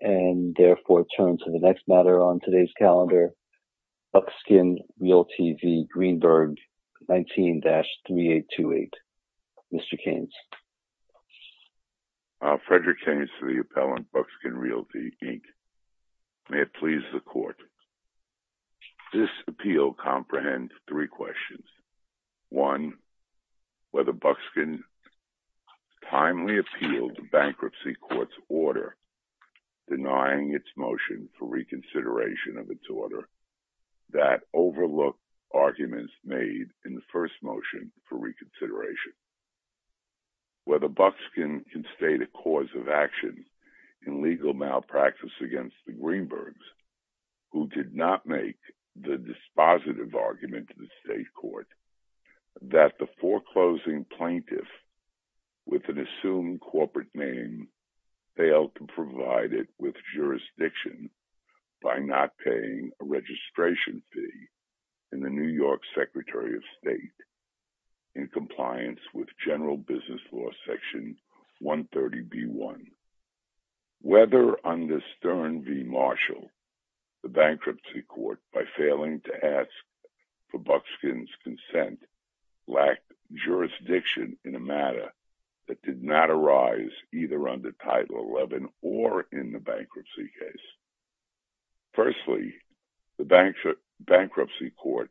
and therefore turn to the next matter on today's calendar, Buckskin Realty v. Greenberg, 19-3828. Mr. Keynes. Frederick Keynes to the appellant, Buckskin Realty, Inc. May it please the court. This appeal comprehends three questions. One, whether Buckskin timely appealed the bankruptcy court's order denying its motion for reconsideration of its order that overlooked arguments made in the first motion for reconsideration. Whether Buckskin can state a cause of action in legal malpractice against the Greenbergs, who did not make the dispositive argument to the state court that the foreclosing plaintiff with an assumed corporate name failed to provide it with jurisdiction by not paying a registration fee in the New York Secretary of State in compliance with general business law section 130b1. Whether under Stern v. Marshall, the bankruptcy court, by failing to ask for Buckskin's consent, lacked jurisdiction in a matter that did not arise either under Title XI or in the bankruptcy case. Firstly, the bankruptcy court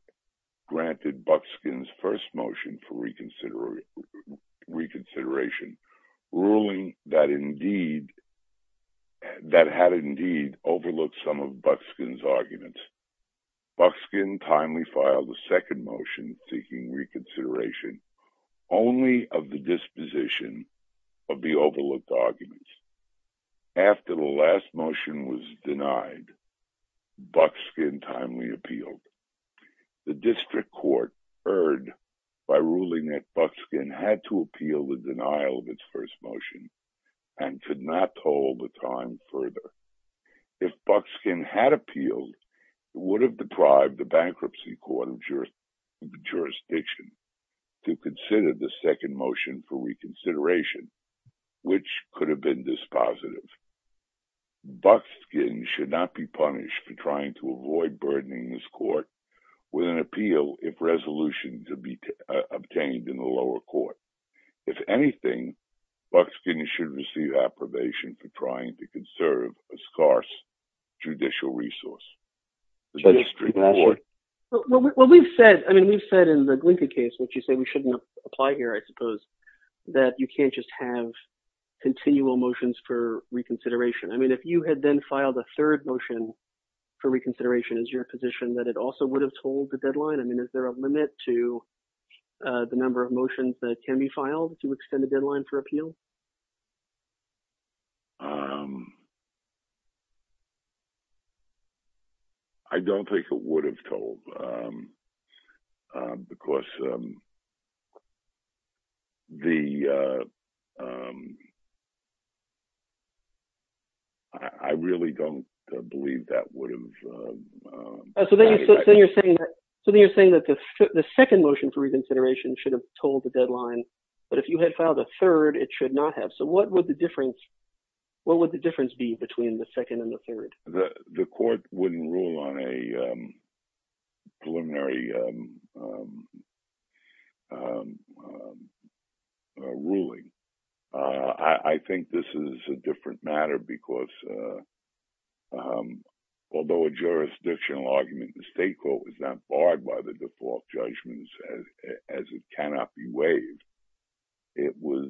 granted Buckskin's first motion for reconsideration ruling that had indeed overlooked some of Buckskin's arguments. Buckskin timely filed the second motion seeking reconsideration only of the disposition of the overlooked arguments. After the last motion was denied, Buckskin timely appealed. The district court heard by ruling that Buckskin had to appeal the denial of its first motion and could not hold the time further. If Buckskin had appealed, it would have deprived the bankruptcy court of jurisdiction to consider the second motion for reconsideration, which could have been dispositive. Buckskin should not be punished for trying to avoid burdening this court with an appeal if resolution to be obtained in the lower court. If anything, Buckskin should receive approbation for trying to conserve a scarce judicial resource. The district court. Well, we've said, I mean, we've said in the Glinka case, which you say we shouldn't apply here, I suppose, that you can't just have continual motions for reconsideration. I mean, if you had then filed a third motion for reconsideration, is your position that it also would have told the deadline? I mean, is there a limit to the number of motions that can be filed to extend the deadline for appeal? Um. I don't think it would have told, because the, I really don't believe that would have. So then you're saying that the second motion for reconsideration should have told the deadline, but if you had filed a third, it should not have. So what would the difference, what would the difference be between the second and the third? The court wouldn't rule on a preliminary ruling. I think this is a different matter because although a jurisdictional argument, the state court was not barred by the default judgments as it cannot be waived. It was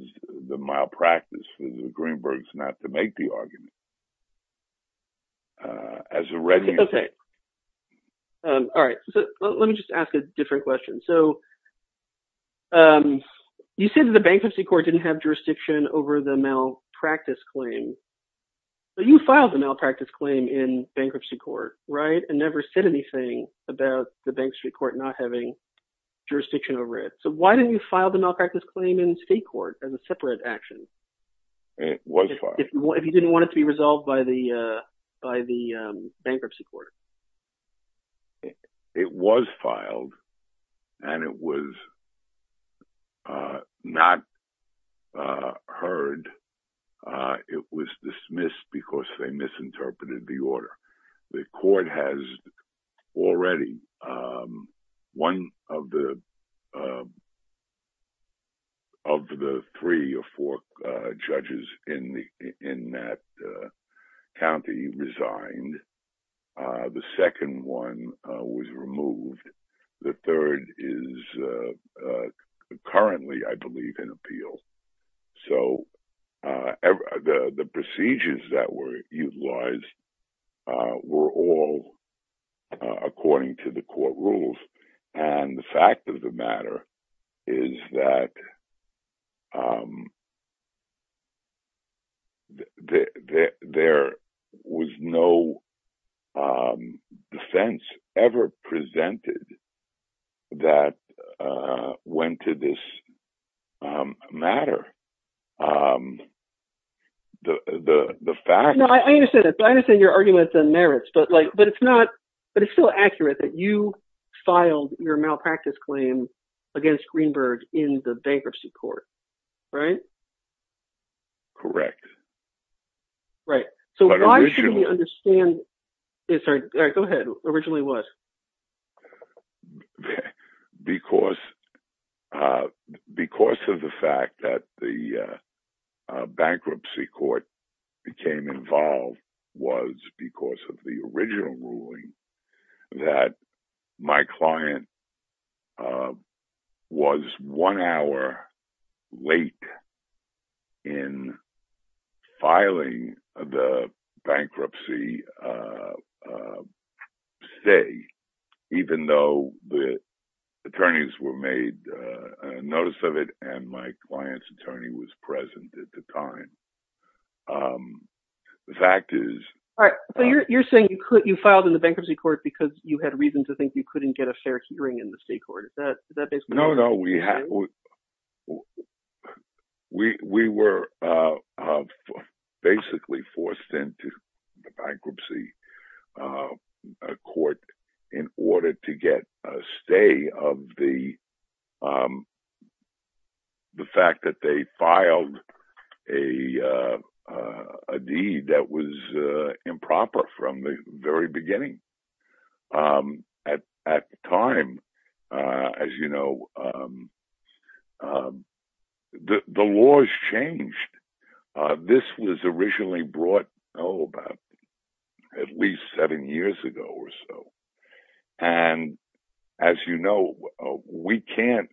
the malpractice for the Greenbergs not to make the argument. As a ready- Okay. All right, so let me just ask a different question. So, you said that the bankruptcy court didn't have jurisdiction over the malpractice claim. So you filed the malpractice claim in bankruptcy court, right, and never said anything about the Bank Street Court not having jurisdiction over it. So why didn't you file the malpractice claim in state court as a separate action? It was filed. If you didn't want it to be resolved by the bankruptcy court. It was filed, and it was not heard. It was dismissed because they misinterpreted the order. The court has already, one of the three or four judges in that county resigned. The second one was removed. The third is currently, I believe, in appeal. So, the procedures that were utilized were all according to the court rules. And the fact of the matter, is that there was no defense ever presented that went to this matter. The fact- No, I understand that. I understand your arguments and merits, but it's not, but it's still accurate that you filed your malpractice claim against Greenberg in the bankruptcy court, right? Correct. Right. So why shouldn't we understand- Sorry, go ahead. Originally what? Because, because of the fact that the bankruptcy court became involved was because of the original ruling that my client was one hour late in filing the bankruptcy stay, even though the attorneys were made a notice of it and my client's attorney was present at the time. The fact is- All right, so you're saying you filed in the bankruptcy court because you had reason to think you couldn't get a fair hearing in the state court. Is that basically- No, no. We were basically forced into the bankruptcy court in order to get a stay of the the fact that they filed a deed that was improper from the very beginning. At that time, as you know, the laws changed. This was originally brought, oh, about at least seven years ago or so. And as you know, we can't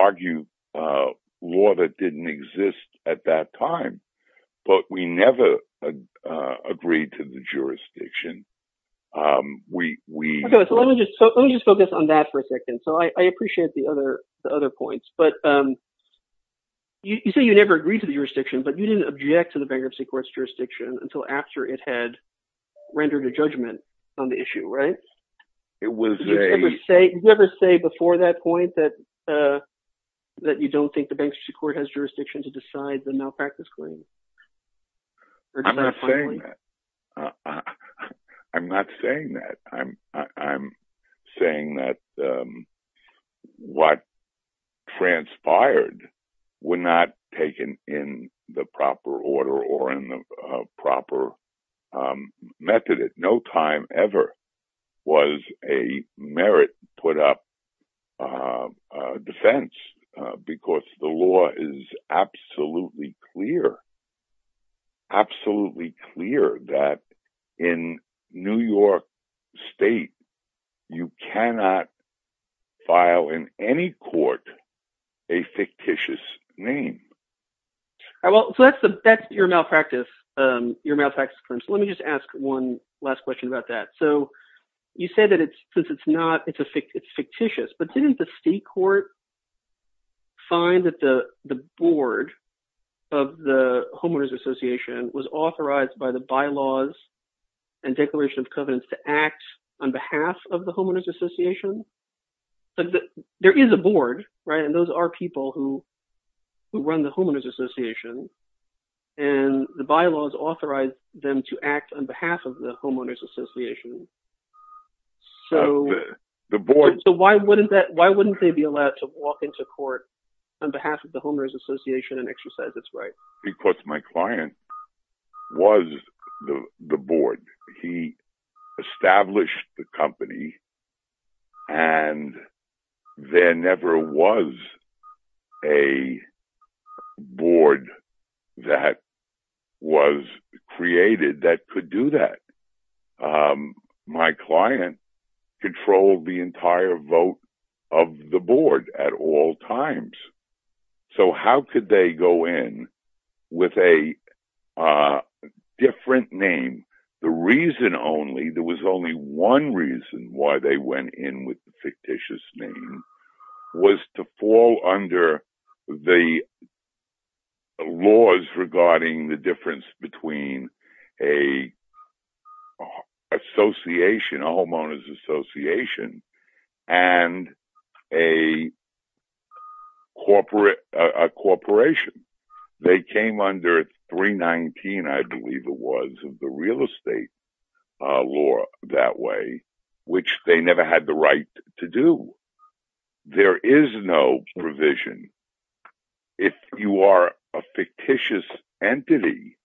argue a law that didn't exist at that time, but we never agreed to the jurisdiction. We- Okay, so let me just focus on that for a second. So I appreciate the other points, but you say you never agreed to the jurisdiction, but you didn't object to the bankruptcy court's jurisdiction until after it had rendered a judgment on the issue, right? It was a- Do you agree with that point, that you don't think the bankruptcy court has jurisdiction to decide the malpractice claim? I'm not saying that. I'm not saying that. I'm saying that what transpired were not taken in the proper order or in the proper method. At no time ever was a merit put up a defense, because the law is absolutely clear, absolutely clear that in New York State, you cannot file in any court a fictitious name. All right, well, so that's your malpractice, your malpractice claim. So let me just ask one last question about that. So you said that it's, since it's not, it's fictitious, but didn't the state court find that the board of the Homeowners Association was authorized by the bylaws and Declaration of Covenants to act on behalf of the Homeowners Association? There is a board, right? And those are people who run the Homeowners Association and the bylaws authorized them to act on behalf of the Homeowners Association. So- The board- Why wouldn't they be allowed to walk into court on behalf of the Homeowners Association and exercise its right? Because my client was the board. He established the company and there never was a board that was created that could do that. My client controlled the entire vote of the board at all times. So how could they go in with a different name? The reason only, there was only one reason why they went in with the fictitious name was to fall under the laws regarding the difference between a association, a Homeowners Association, and a corporation. They came under 319, I believe it was, of the real estate law that way, which they never had the right to do. There is no provision. If you are a fictitious entity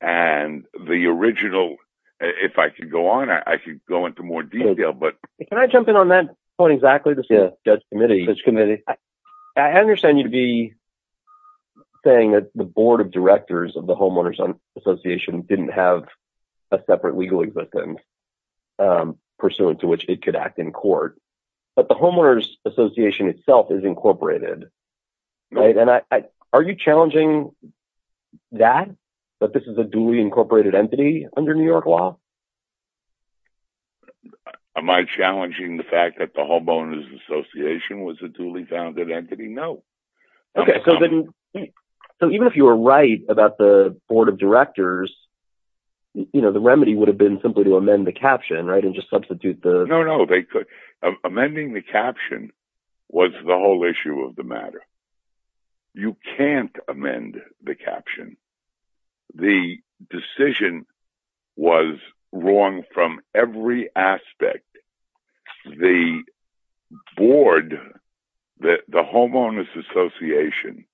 and the original, if I could go on, I could go into more detail, but- Can I jump in on that point exactly? This is a judge committee. Judge committee. I understand you'd be saying that the board of directors of the Homeowners Association didn't have a separate legal existence pursuant to which it could act in court, but the Homeowners Association itself is incorporated. Are you challenging that, that this is a duly incorporated entity under New York law? Am I challenging the fact that the Homeowners Association was a duly founded entity? No. Okay, so even if you were right about the board of directors, the remedy would have been simply to amend the caption, right, and just substitute the- No, no, no, they could. Amending the caption was the whole issue of the matter. You can't amend the caption. The decision was wrong from every aspect. The board, the Homeowners Association,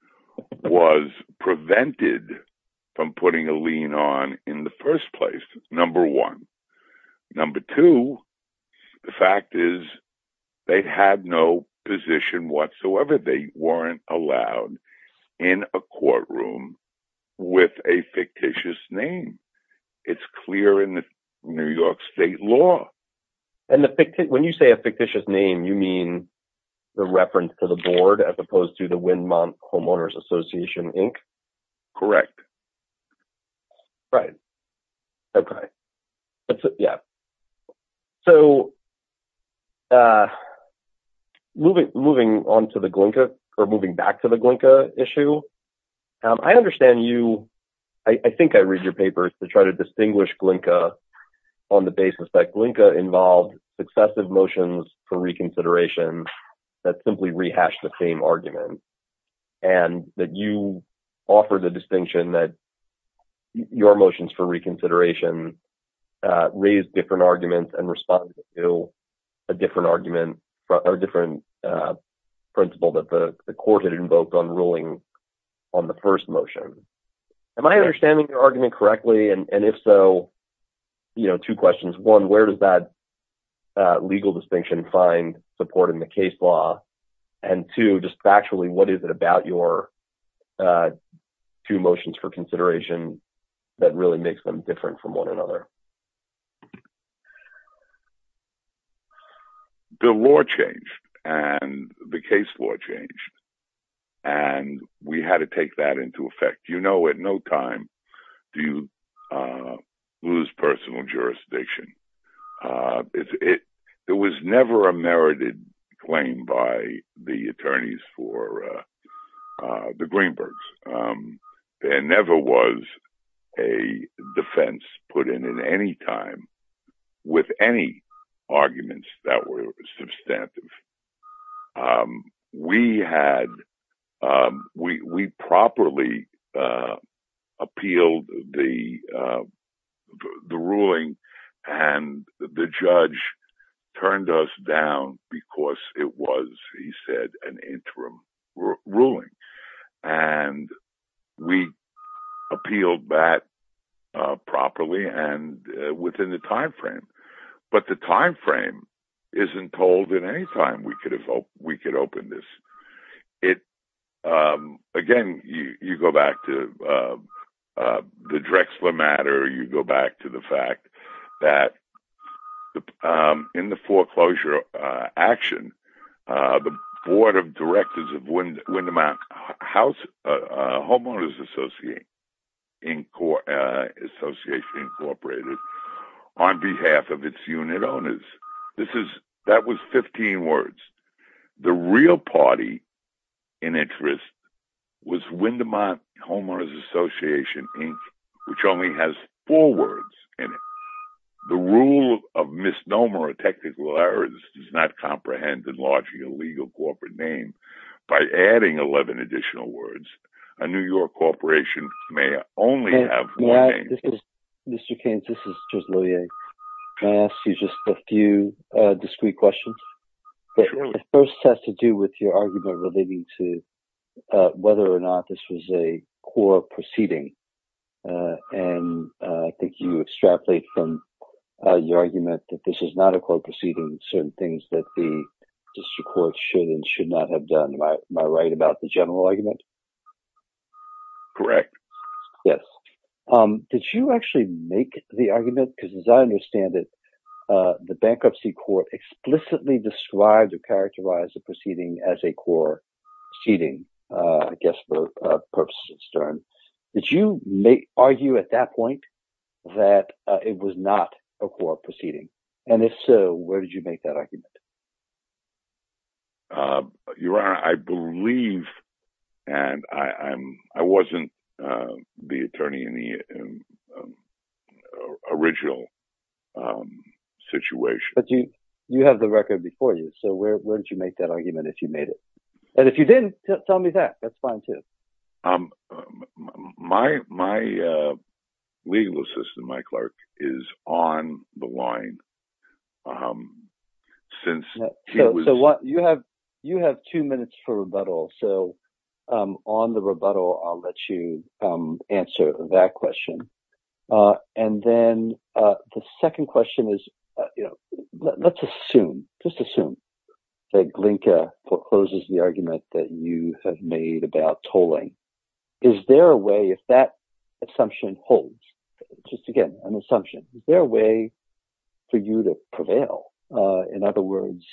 was prevented from putting a lien on in the first place, number one. Number two, the fact is they had no position whatsoever. They weren't allowed in a courtroom with a fictitious name. It's clear in the New York state law. And when you say a fictitious name, you mean the reference to the board as opposed to the Windmont Homeowners Association, Inc.? Correct. Right, okay. Yeah, so moving on to the Glynka, or moving back to the Glynka issue, I understand you, I think I read your papers to try to distinguish Glynka on the basis that Glynka involved successive motions for reconsideration that simply rehashed the same argument, and that you offer the distinction that your motions for reconsideration raised different arguments and responded to a different argument, or a different principle that the court had invoked on ruling on the first motion. Am I understanding your argument correctly? And if so, two questions. One, where does that legal distinction find support in the case law? And two, just factually, what is it about your two motions for consideration that really makes them different from one another? The law changed, and the case law changed, and we had to take that into effect. You know at no time do you lose personal jurisdiction. There was never a merited claim by the attorneys for the Greenbergs. There never was a defense put in at any time with any arguments that were substantive. We properly appealed the ruling, and the judge turned us down because it was, he said, an interim ruling. And we appealed that properly and within the timeframe. But the timeframe isn't told at any time we could open this. Again, you go back to the Drexler matter, you go back to the fact that in the foreclosure action, the Board of Directors of Windermere Homeowners Association on behalf of its unit owners, that was 15 words. The real party in interest was Windermere Homeowners Association, Inc., which only has four words in it. The rule of misnomer or technical errors does not comprehend enlarging a legal corporate name. By adding 11 additional words, a New York corporation may only have one name. Mr. Keynes, this is Charles Lillier. Can I ask you just a few discreet questions? Sure. The first has to do with your argument relating to whether or not this was a core proceeding. And I think you extrapolate from your argument that this is not a core proceeding, certain things that the district court should and should not have done. Am I right about the general argument? Correct. Yes. Did you actually make the argument? Because as I understand it, the bankruptcy court explicitly described or characterized the proceeding as a core proceeding, I guess for purposes of stern. Did you argue at that point that it was not a core proceeding? And if so, where did you make that argument? Your Honor, I believe, and I wasn't the attorney in the original situation. But you have the record before you. So where did you make that argument if you made it? And if you didn't, tell me that. That's fine too. My legal assistant, my clerk, is on the line. Since he was- So you have two minutes for rebuttal. So on the rebuttal, I'll let you answer that question. And then the second question is, let's assume, just assume, that Glinka forecloses the argument that you have made about tolling. Is there a way, if that assumption holds, just again, an assumption, is there a way for you to prevail? In other words,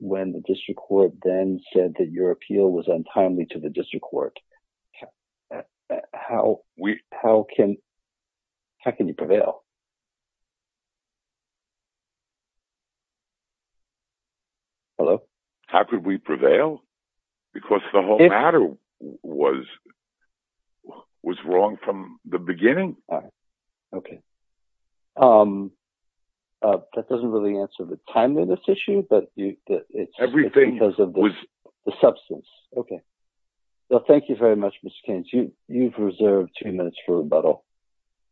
when the district court then said that your appeal was untimely to the district court, how can you prevail? Hello? How could we prevail? Because the whole matter was wrong from the beginning. Okay. That doesn't really answer the timeliness issue, but it's because of the substance. Okay. Well, thank you very much, Mr. Keynes. You've reserved two minutes for rebuttal.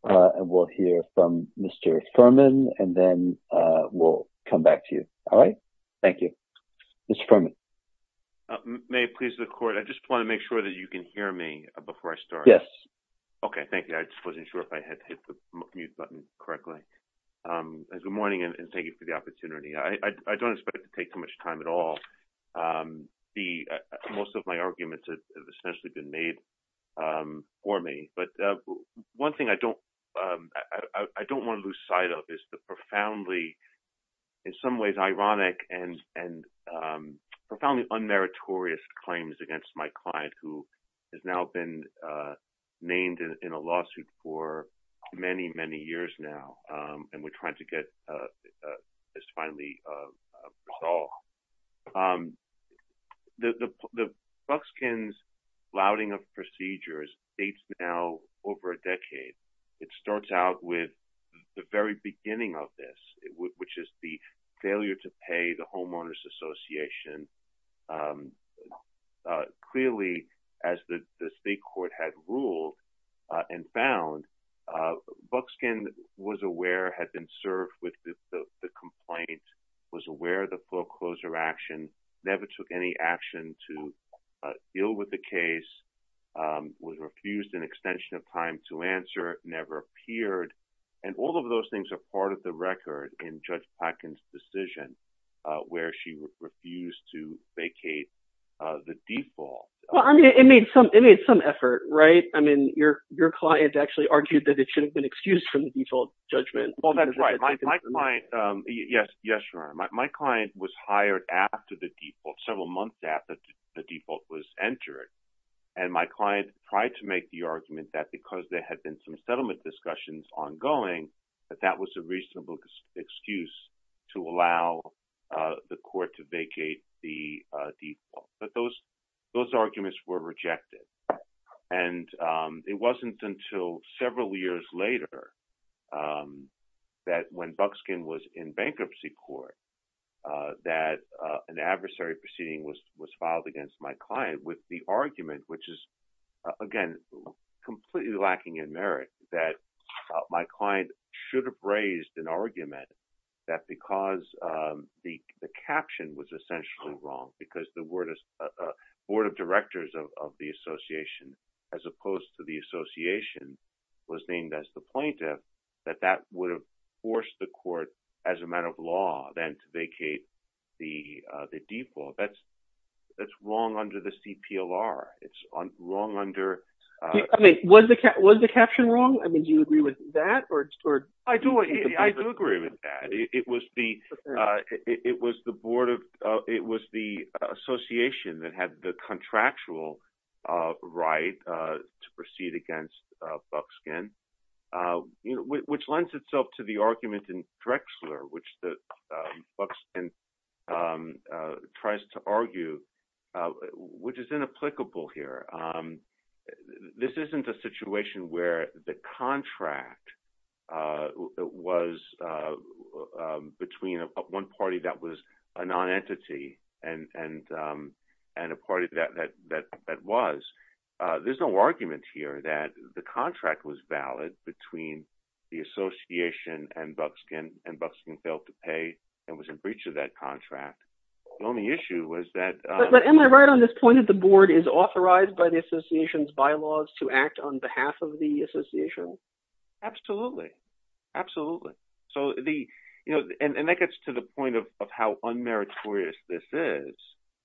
And we'll hear from Mr. Fuhrman, and then we'll come back to you. All right? Thank you. Mr. Fuhrman. May it please the court, I just wanna make sure that you can hear me before I start. Yes. Okay, thank you. I just wasn't sure if I had hit the mute button correctly. Good morning, and thank you for the opportunity. I don't expect to take too much time at all. Most of my arguments have essentially been made for me. But one thing I don't wanna lose sight of is the profoundly, in some ways, ironic and profoundly unmeritorious claims against my client, who has now been named in a lawsuit for many, many years now. And we're trying to get this finally resolved. The Buxkin's flouting of procedures dates now over a decade. It starts out with the very beginning of this, which is the failure to pay the Homeowners Association. Clearly, as the state court had ruled and found, Buxkin was aware, had been served with the complaint, was aware of the foreclosure action, never took any action to deal with the case, was refused an extension of time to answer, never appeared. And all of those things are part of the record in Judge Plotkin's decision, where she refused to vacate the default. Well, I mean, it made some effort, right? I mean, your client actually argued that it should have been excused from the default judgment. Well, that's right. My client, yes, Your Honor. My client was hired after the default, several months after the default was entered. And my client tried to make the argument that because there had been some settlement discussions ongoing, that that was a reasonable excuse to allow the court to vacate the default. But those arguments were rejected. And it wasn't until several years later that when Buxkin was in bankruptcy court, that an adversary proceeding was filed against my client with the argument, which is, again, completely lacking in merit, that my client should have raised an argument that because the caption was essentially wrong, because the board of directors of the association, as opposed to the association, was named as the plaintiff, that that would have forced the court, as a matter of law, then to vacate the default. That's wrong under the CPLR. It's wrong under- I mean, was the caption wrong? I mean, do you agree with that? I do agree with that. It was the association that had the contractual right to proceed against Buxkin, which lends itself to the argument in Drexler, which Buxkin tries to argue, which is inapplicable here. This isn't a situation where the contract was between one party that was a non-entity and a party that was. There's no argument here that the contract was valid between the association and Buxkin, and Buxkin failed to pay and was in breach of that contract. The only issue was that- But am I right on this point that the board is authorized by the association's bylaws to act on behalf of the association? Absolutely. Absolutely. And that gets to the point of how unmeritorious this is.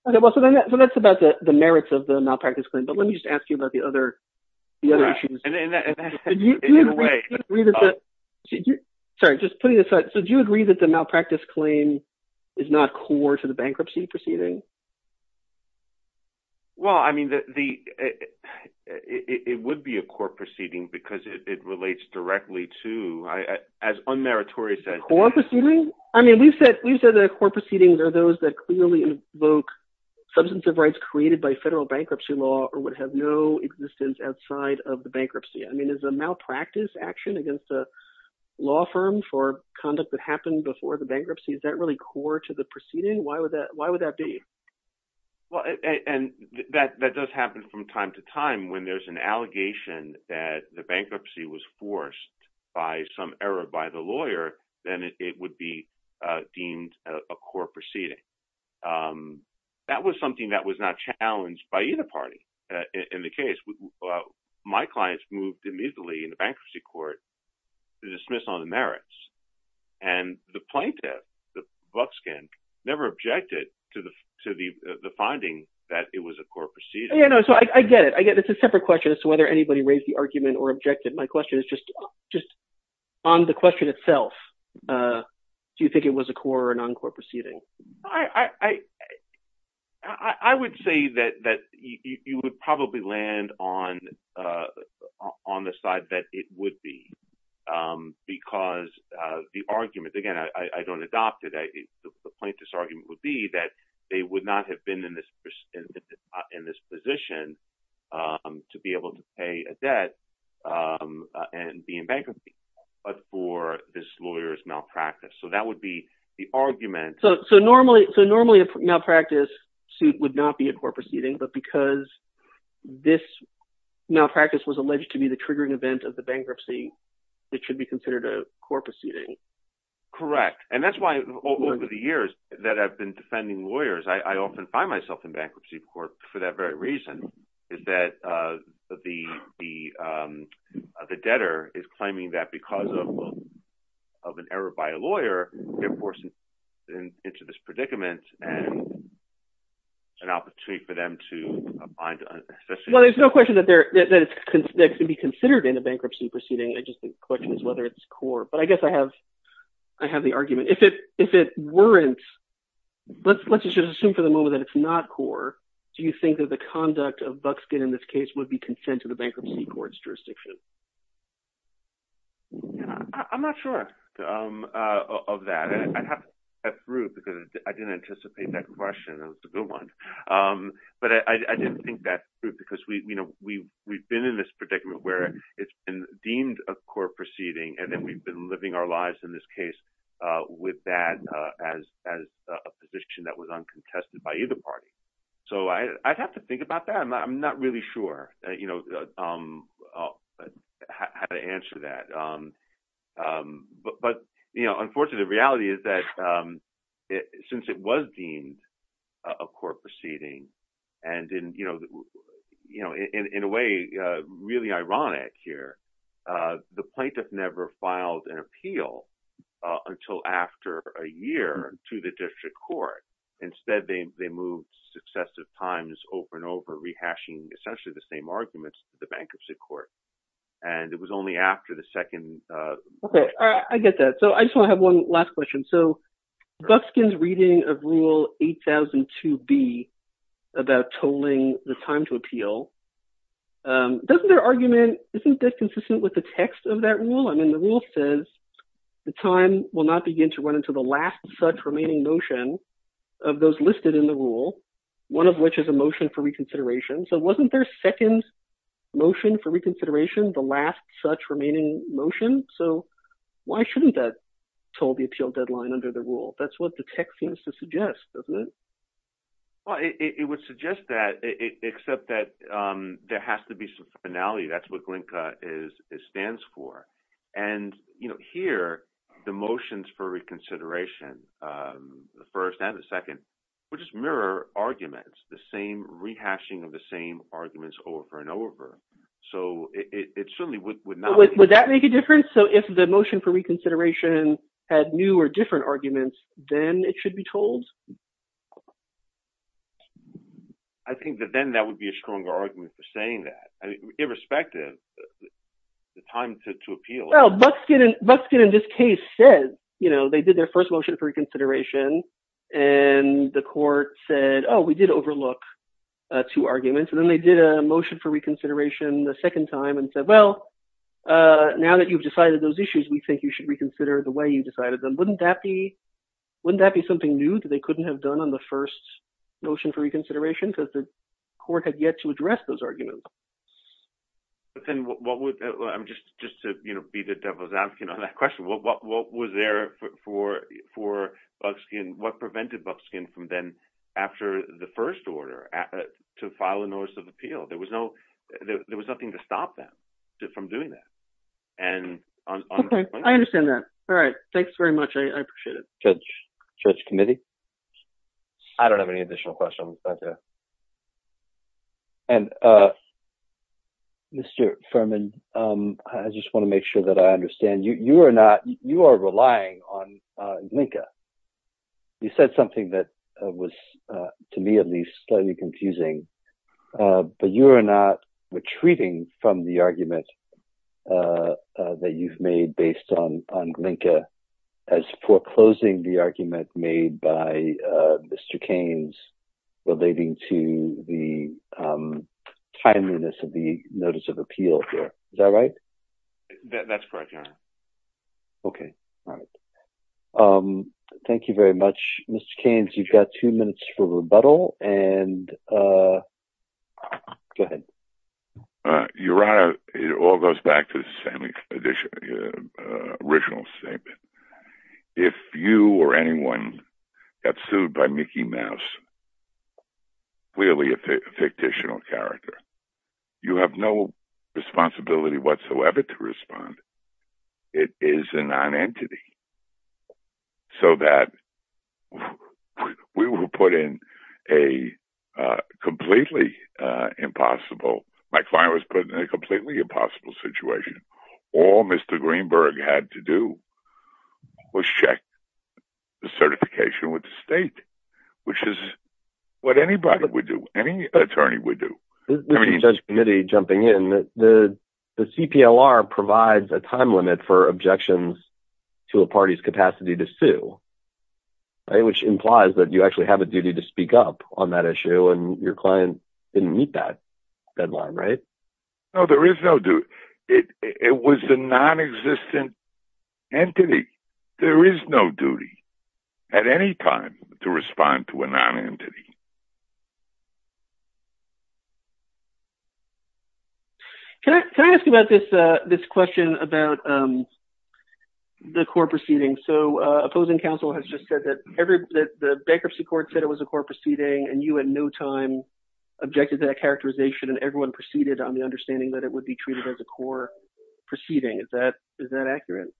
Okay, well, so that's about the merits of the malpractice claim, but let me just ask you about the other issues. And that, in a way- Sorry, just putting this aside. So do you agree that the malpractice claim is not core to the bankruptcy proceeding? Well, I mean, it would be a core proceeding because it relates directly to, as Unmeritorious said- A core proceeding? I mean, we've said that core proceedings are those that clearly invoke substantive rights created by federal bankruptcy law or would have no existence outside of the bankruptcy. I mean, is a malpractice action against a law firm for conduct that happened before the bankruptcy, is that really core to the proceeding? Why would that be? Well, and that does happen from time to time when there's an allegation that the bankruptcy was forced by some error by the lawyer, then it would be deemed a core proceeding. That was something that was not challenged by either party in the case. My clients moved immediately in the bankruptcy court to dismiss all the merits. And the plaintiff, the buckskin, never objected to the finding that it was a core proceeding. Yeah, no, so I get it. I get it. It's a separate question as to whether anybody raised the argument or objected. My question is just on the question itself. Do you think it was a core or non-core proceeding? I would say that you would probably land on the side that it would be because the argument, again, I don't adopt it. The plaintiff's argument would be that they would not have been in this position to be able to pay a debt and be in bankruptcy, but for this lawyer's malpractice. So that would be the argument. So normally a malpractice suit would not be a core proceeding, but because this malpractice was alleged to be the triggering event of the bankruptcy, it should be considered a core proceeding. Correct. And that's why over the years that I've been defending lawyers, I often find myself in bankruptcy court for that very reason, is that the debtor is claiming that because of an error by a lawyer, they're forcing them into this predicament and an opportunity for them to find... Well, there's no question that it can be considered in a bankruptcy proceeding. I just think the question is whether it's core, but I guess I have the argument. If it weren't, let's just assume for the moment that it's not core, do you think that the conduct of Buckskin in this case would be consent to the bankruptcy court's jurisdiction? I'm not sure of that. I'd have to ask Ruth because I didn't anticipate that question. That was a good one. But I didn't think that's true because we've been in this predicament where it's been deemed a core proceeding and then we've been living our lives in this case with that as a position that was uncontested by either party. So I'd have to think about that. I'm not really sure how to answer that. But unfortunately, the reality is that since it was deemed a core proceeding and in a way really ironic here, the plaintiff never filed an appeal until after a year to the district court. Instead, they moved successive times over and over rehashing essentially the same arguments to the bankruptcy court. And it was only after the second... Okay, I get that. So I just wanna have one last question. So Bufskin's reading of rule 8002B about tolling the time to appeal, doesn't their argument, isn't that consistent with the text of that rule? I mean, the rule says the time will not begin to run into the last such remaining motion of those listed in the rule, one of which is a motion for reconsideration. So wasn't their second motion for reconsideration the last such remaining motion? So why shouldn't that toll the appeal deadline under the rule? That's what the text seems to suggest, doesn't it? Well, it would suggest that except that there has to be some finality, that's what GLINKA stands for. And here, the motions for reconsideration, the first and the second, which is mirror arguments, the same rehashing of the same arguments over and over. So it certainly would not... So if the motion for reconsideration had new or different arguments, then it should be told? I think that then that would be a stronger argument for saying that, irrespective of the time to appeal. Well, Bufskin in this case said, they did their first motion for reconsideration and the court said, oh, we did overlook two arguments. And then they did a motion for reconsideration the second time and said, well, now that you've decided those issues, we think you should reconsider the way you decided them. Wouldn't that be something new that they couldn't have done on the first motion for reconsideration? Because the court had yet to address those arguments. But then what would... I'm just to be the devil's advocate on that question. What was there for Bufskin? What prevented Bufskin from then, after the first order to file a notice of appeal? There was nothing to stop them from doing that. I understand that. All right. Thanks very much. I appreciate it. Judge Committee? I don't have any additional questions. And Mr. Furman, I just wanna make sure that I understand, you are relying on NNCA. You said something that was, to me at least, slightly confusing, but you are not retreating from the argument that you've made based on NNCA as foreclosing the argument made by Mr. Keynes relating to the timeliness of the notice of appeal here. Is that right? That's correct, Your Honor. Okay. All right. You've got two minutes for rebuttal, and go ahead. Your Honor, it all goes back to the original statement. If you or anyone got sued by Mickey Mouse, clearly a fictitional character, you have no responsibility whatsoever to respond. It is a non-entity. So that we will put in a completely impossible, my client was put in a completely impossible situation. All Mr. Greenberg had to do was check the certification with the state, which is what anybody would do, any attorney would do. Mr. Judge Committee, jumping in, the CPLR provides a time limit for objections to a party's capacity to sue, which implies that you actually have a duty to speak up on that issue, and your client didn't meet that deadline, right? No, there is no duty. It was a non-existent entity. There is no duty at any time to respond to a non-entity. Can I ask you about this question about the court proceeding? So opposing counsel has just said that the bankruptcy court said it was a court proceeding, and you at no time objected to that characterization, and everyone proceeded on the understanding that it would be treated as a court proceeding. Is that accurate?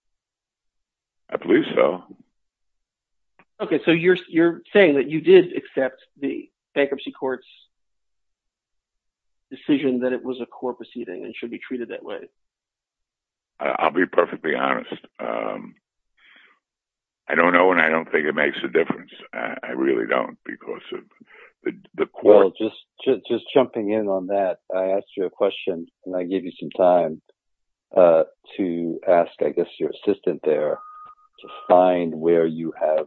I believe so. Okay, so you're saying that you did accept the bankruptcy court's decision that it was a court proceeding and should be treated that way. I'll be perfectly honest. I don't know, and I don't think it makes a difference. I really don't, because of the court. Well, just jumping in on that, I asked you a question, and I gave you some time to ask, I guess, your assistant there to find where you have,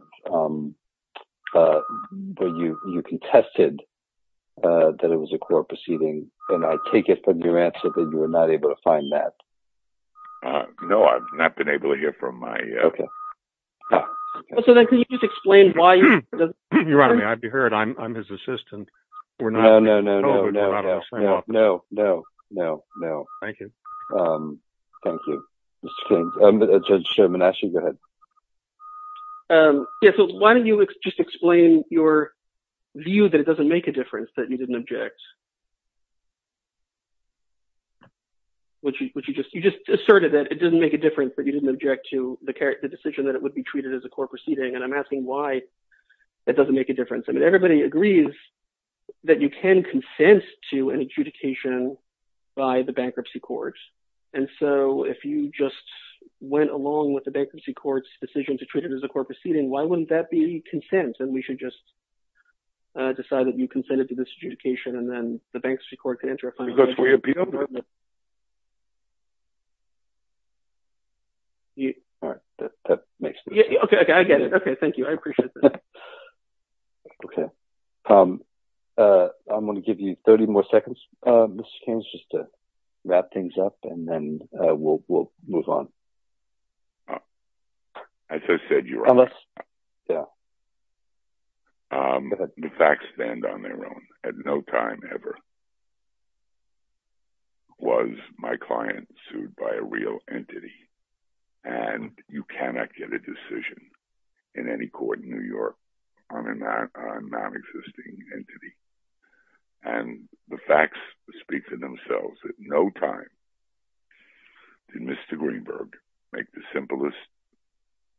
where you contested that it was a court proceeding, and I take it from your answer that you were not able to find that. No, I've not been able to get from my... Okay. So then can you just explain why... You're right on that, I'd be hurt. I'm his assistant. We're not... No, no, no, no, no, no, no, no, no, no. Thank you. Thank you. Mr. King, Judge Sherman, actually, go ahead. Yeah, so why don't you just explain your view that it doesn't make a difference that you didn't object, which you just asserted that it doesn't make a difference that you didn't object to the decision that it would be treated as a court proceeding, and I'm asking why it doesn't make a difference. I mean, everybody agrees that you can consent to an adjudication by the bankruptcy court, and so if you just went along with the bankruptcy court's decision to treat it as a court proceeding, why wouldn't that be consent, to this adjudication and that it's a court proceeding? And the bankruptcy court could enter a final judgment. Because we appealed. All right, that makes sense. Okay, okay, I get it. Okay, thank you, I appreciate that. Okay. I'm gonna give you 30 more seconds, Mr. Kings, just to wrap things up, and then we'll move on. As I said, you're right. Yeah. The facts stand on their own. At no time ever was my client sued by a real entity, and you cannot get a decision in any court in New York on a non-existing entity. And the facts speak for themselves. At no time did Mr. Greenberg make the simplest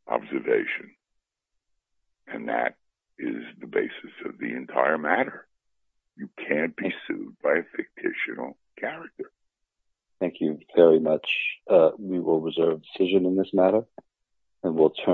observation, and that is the basis of the entire matter. You can't be sued by a fictitional character. Thank you very much. We will reserve decision in this matter, and we'll turn.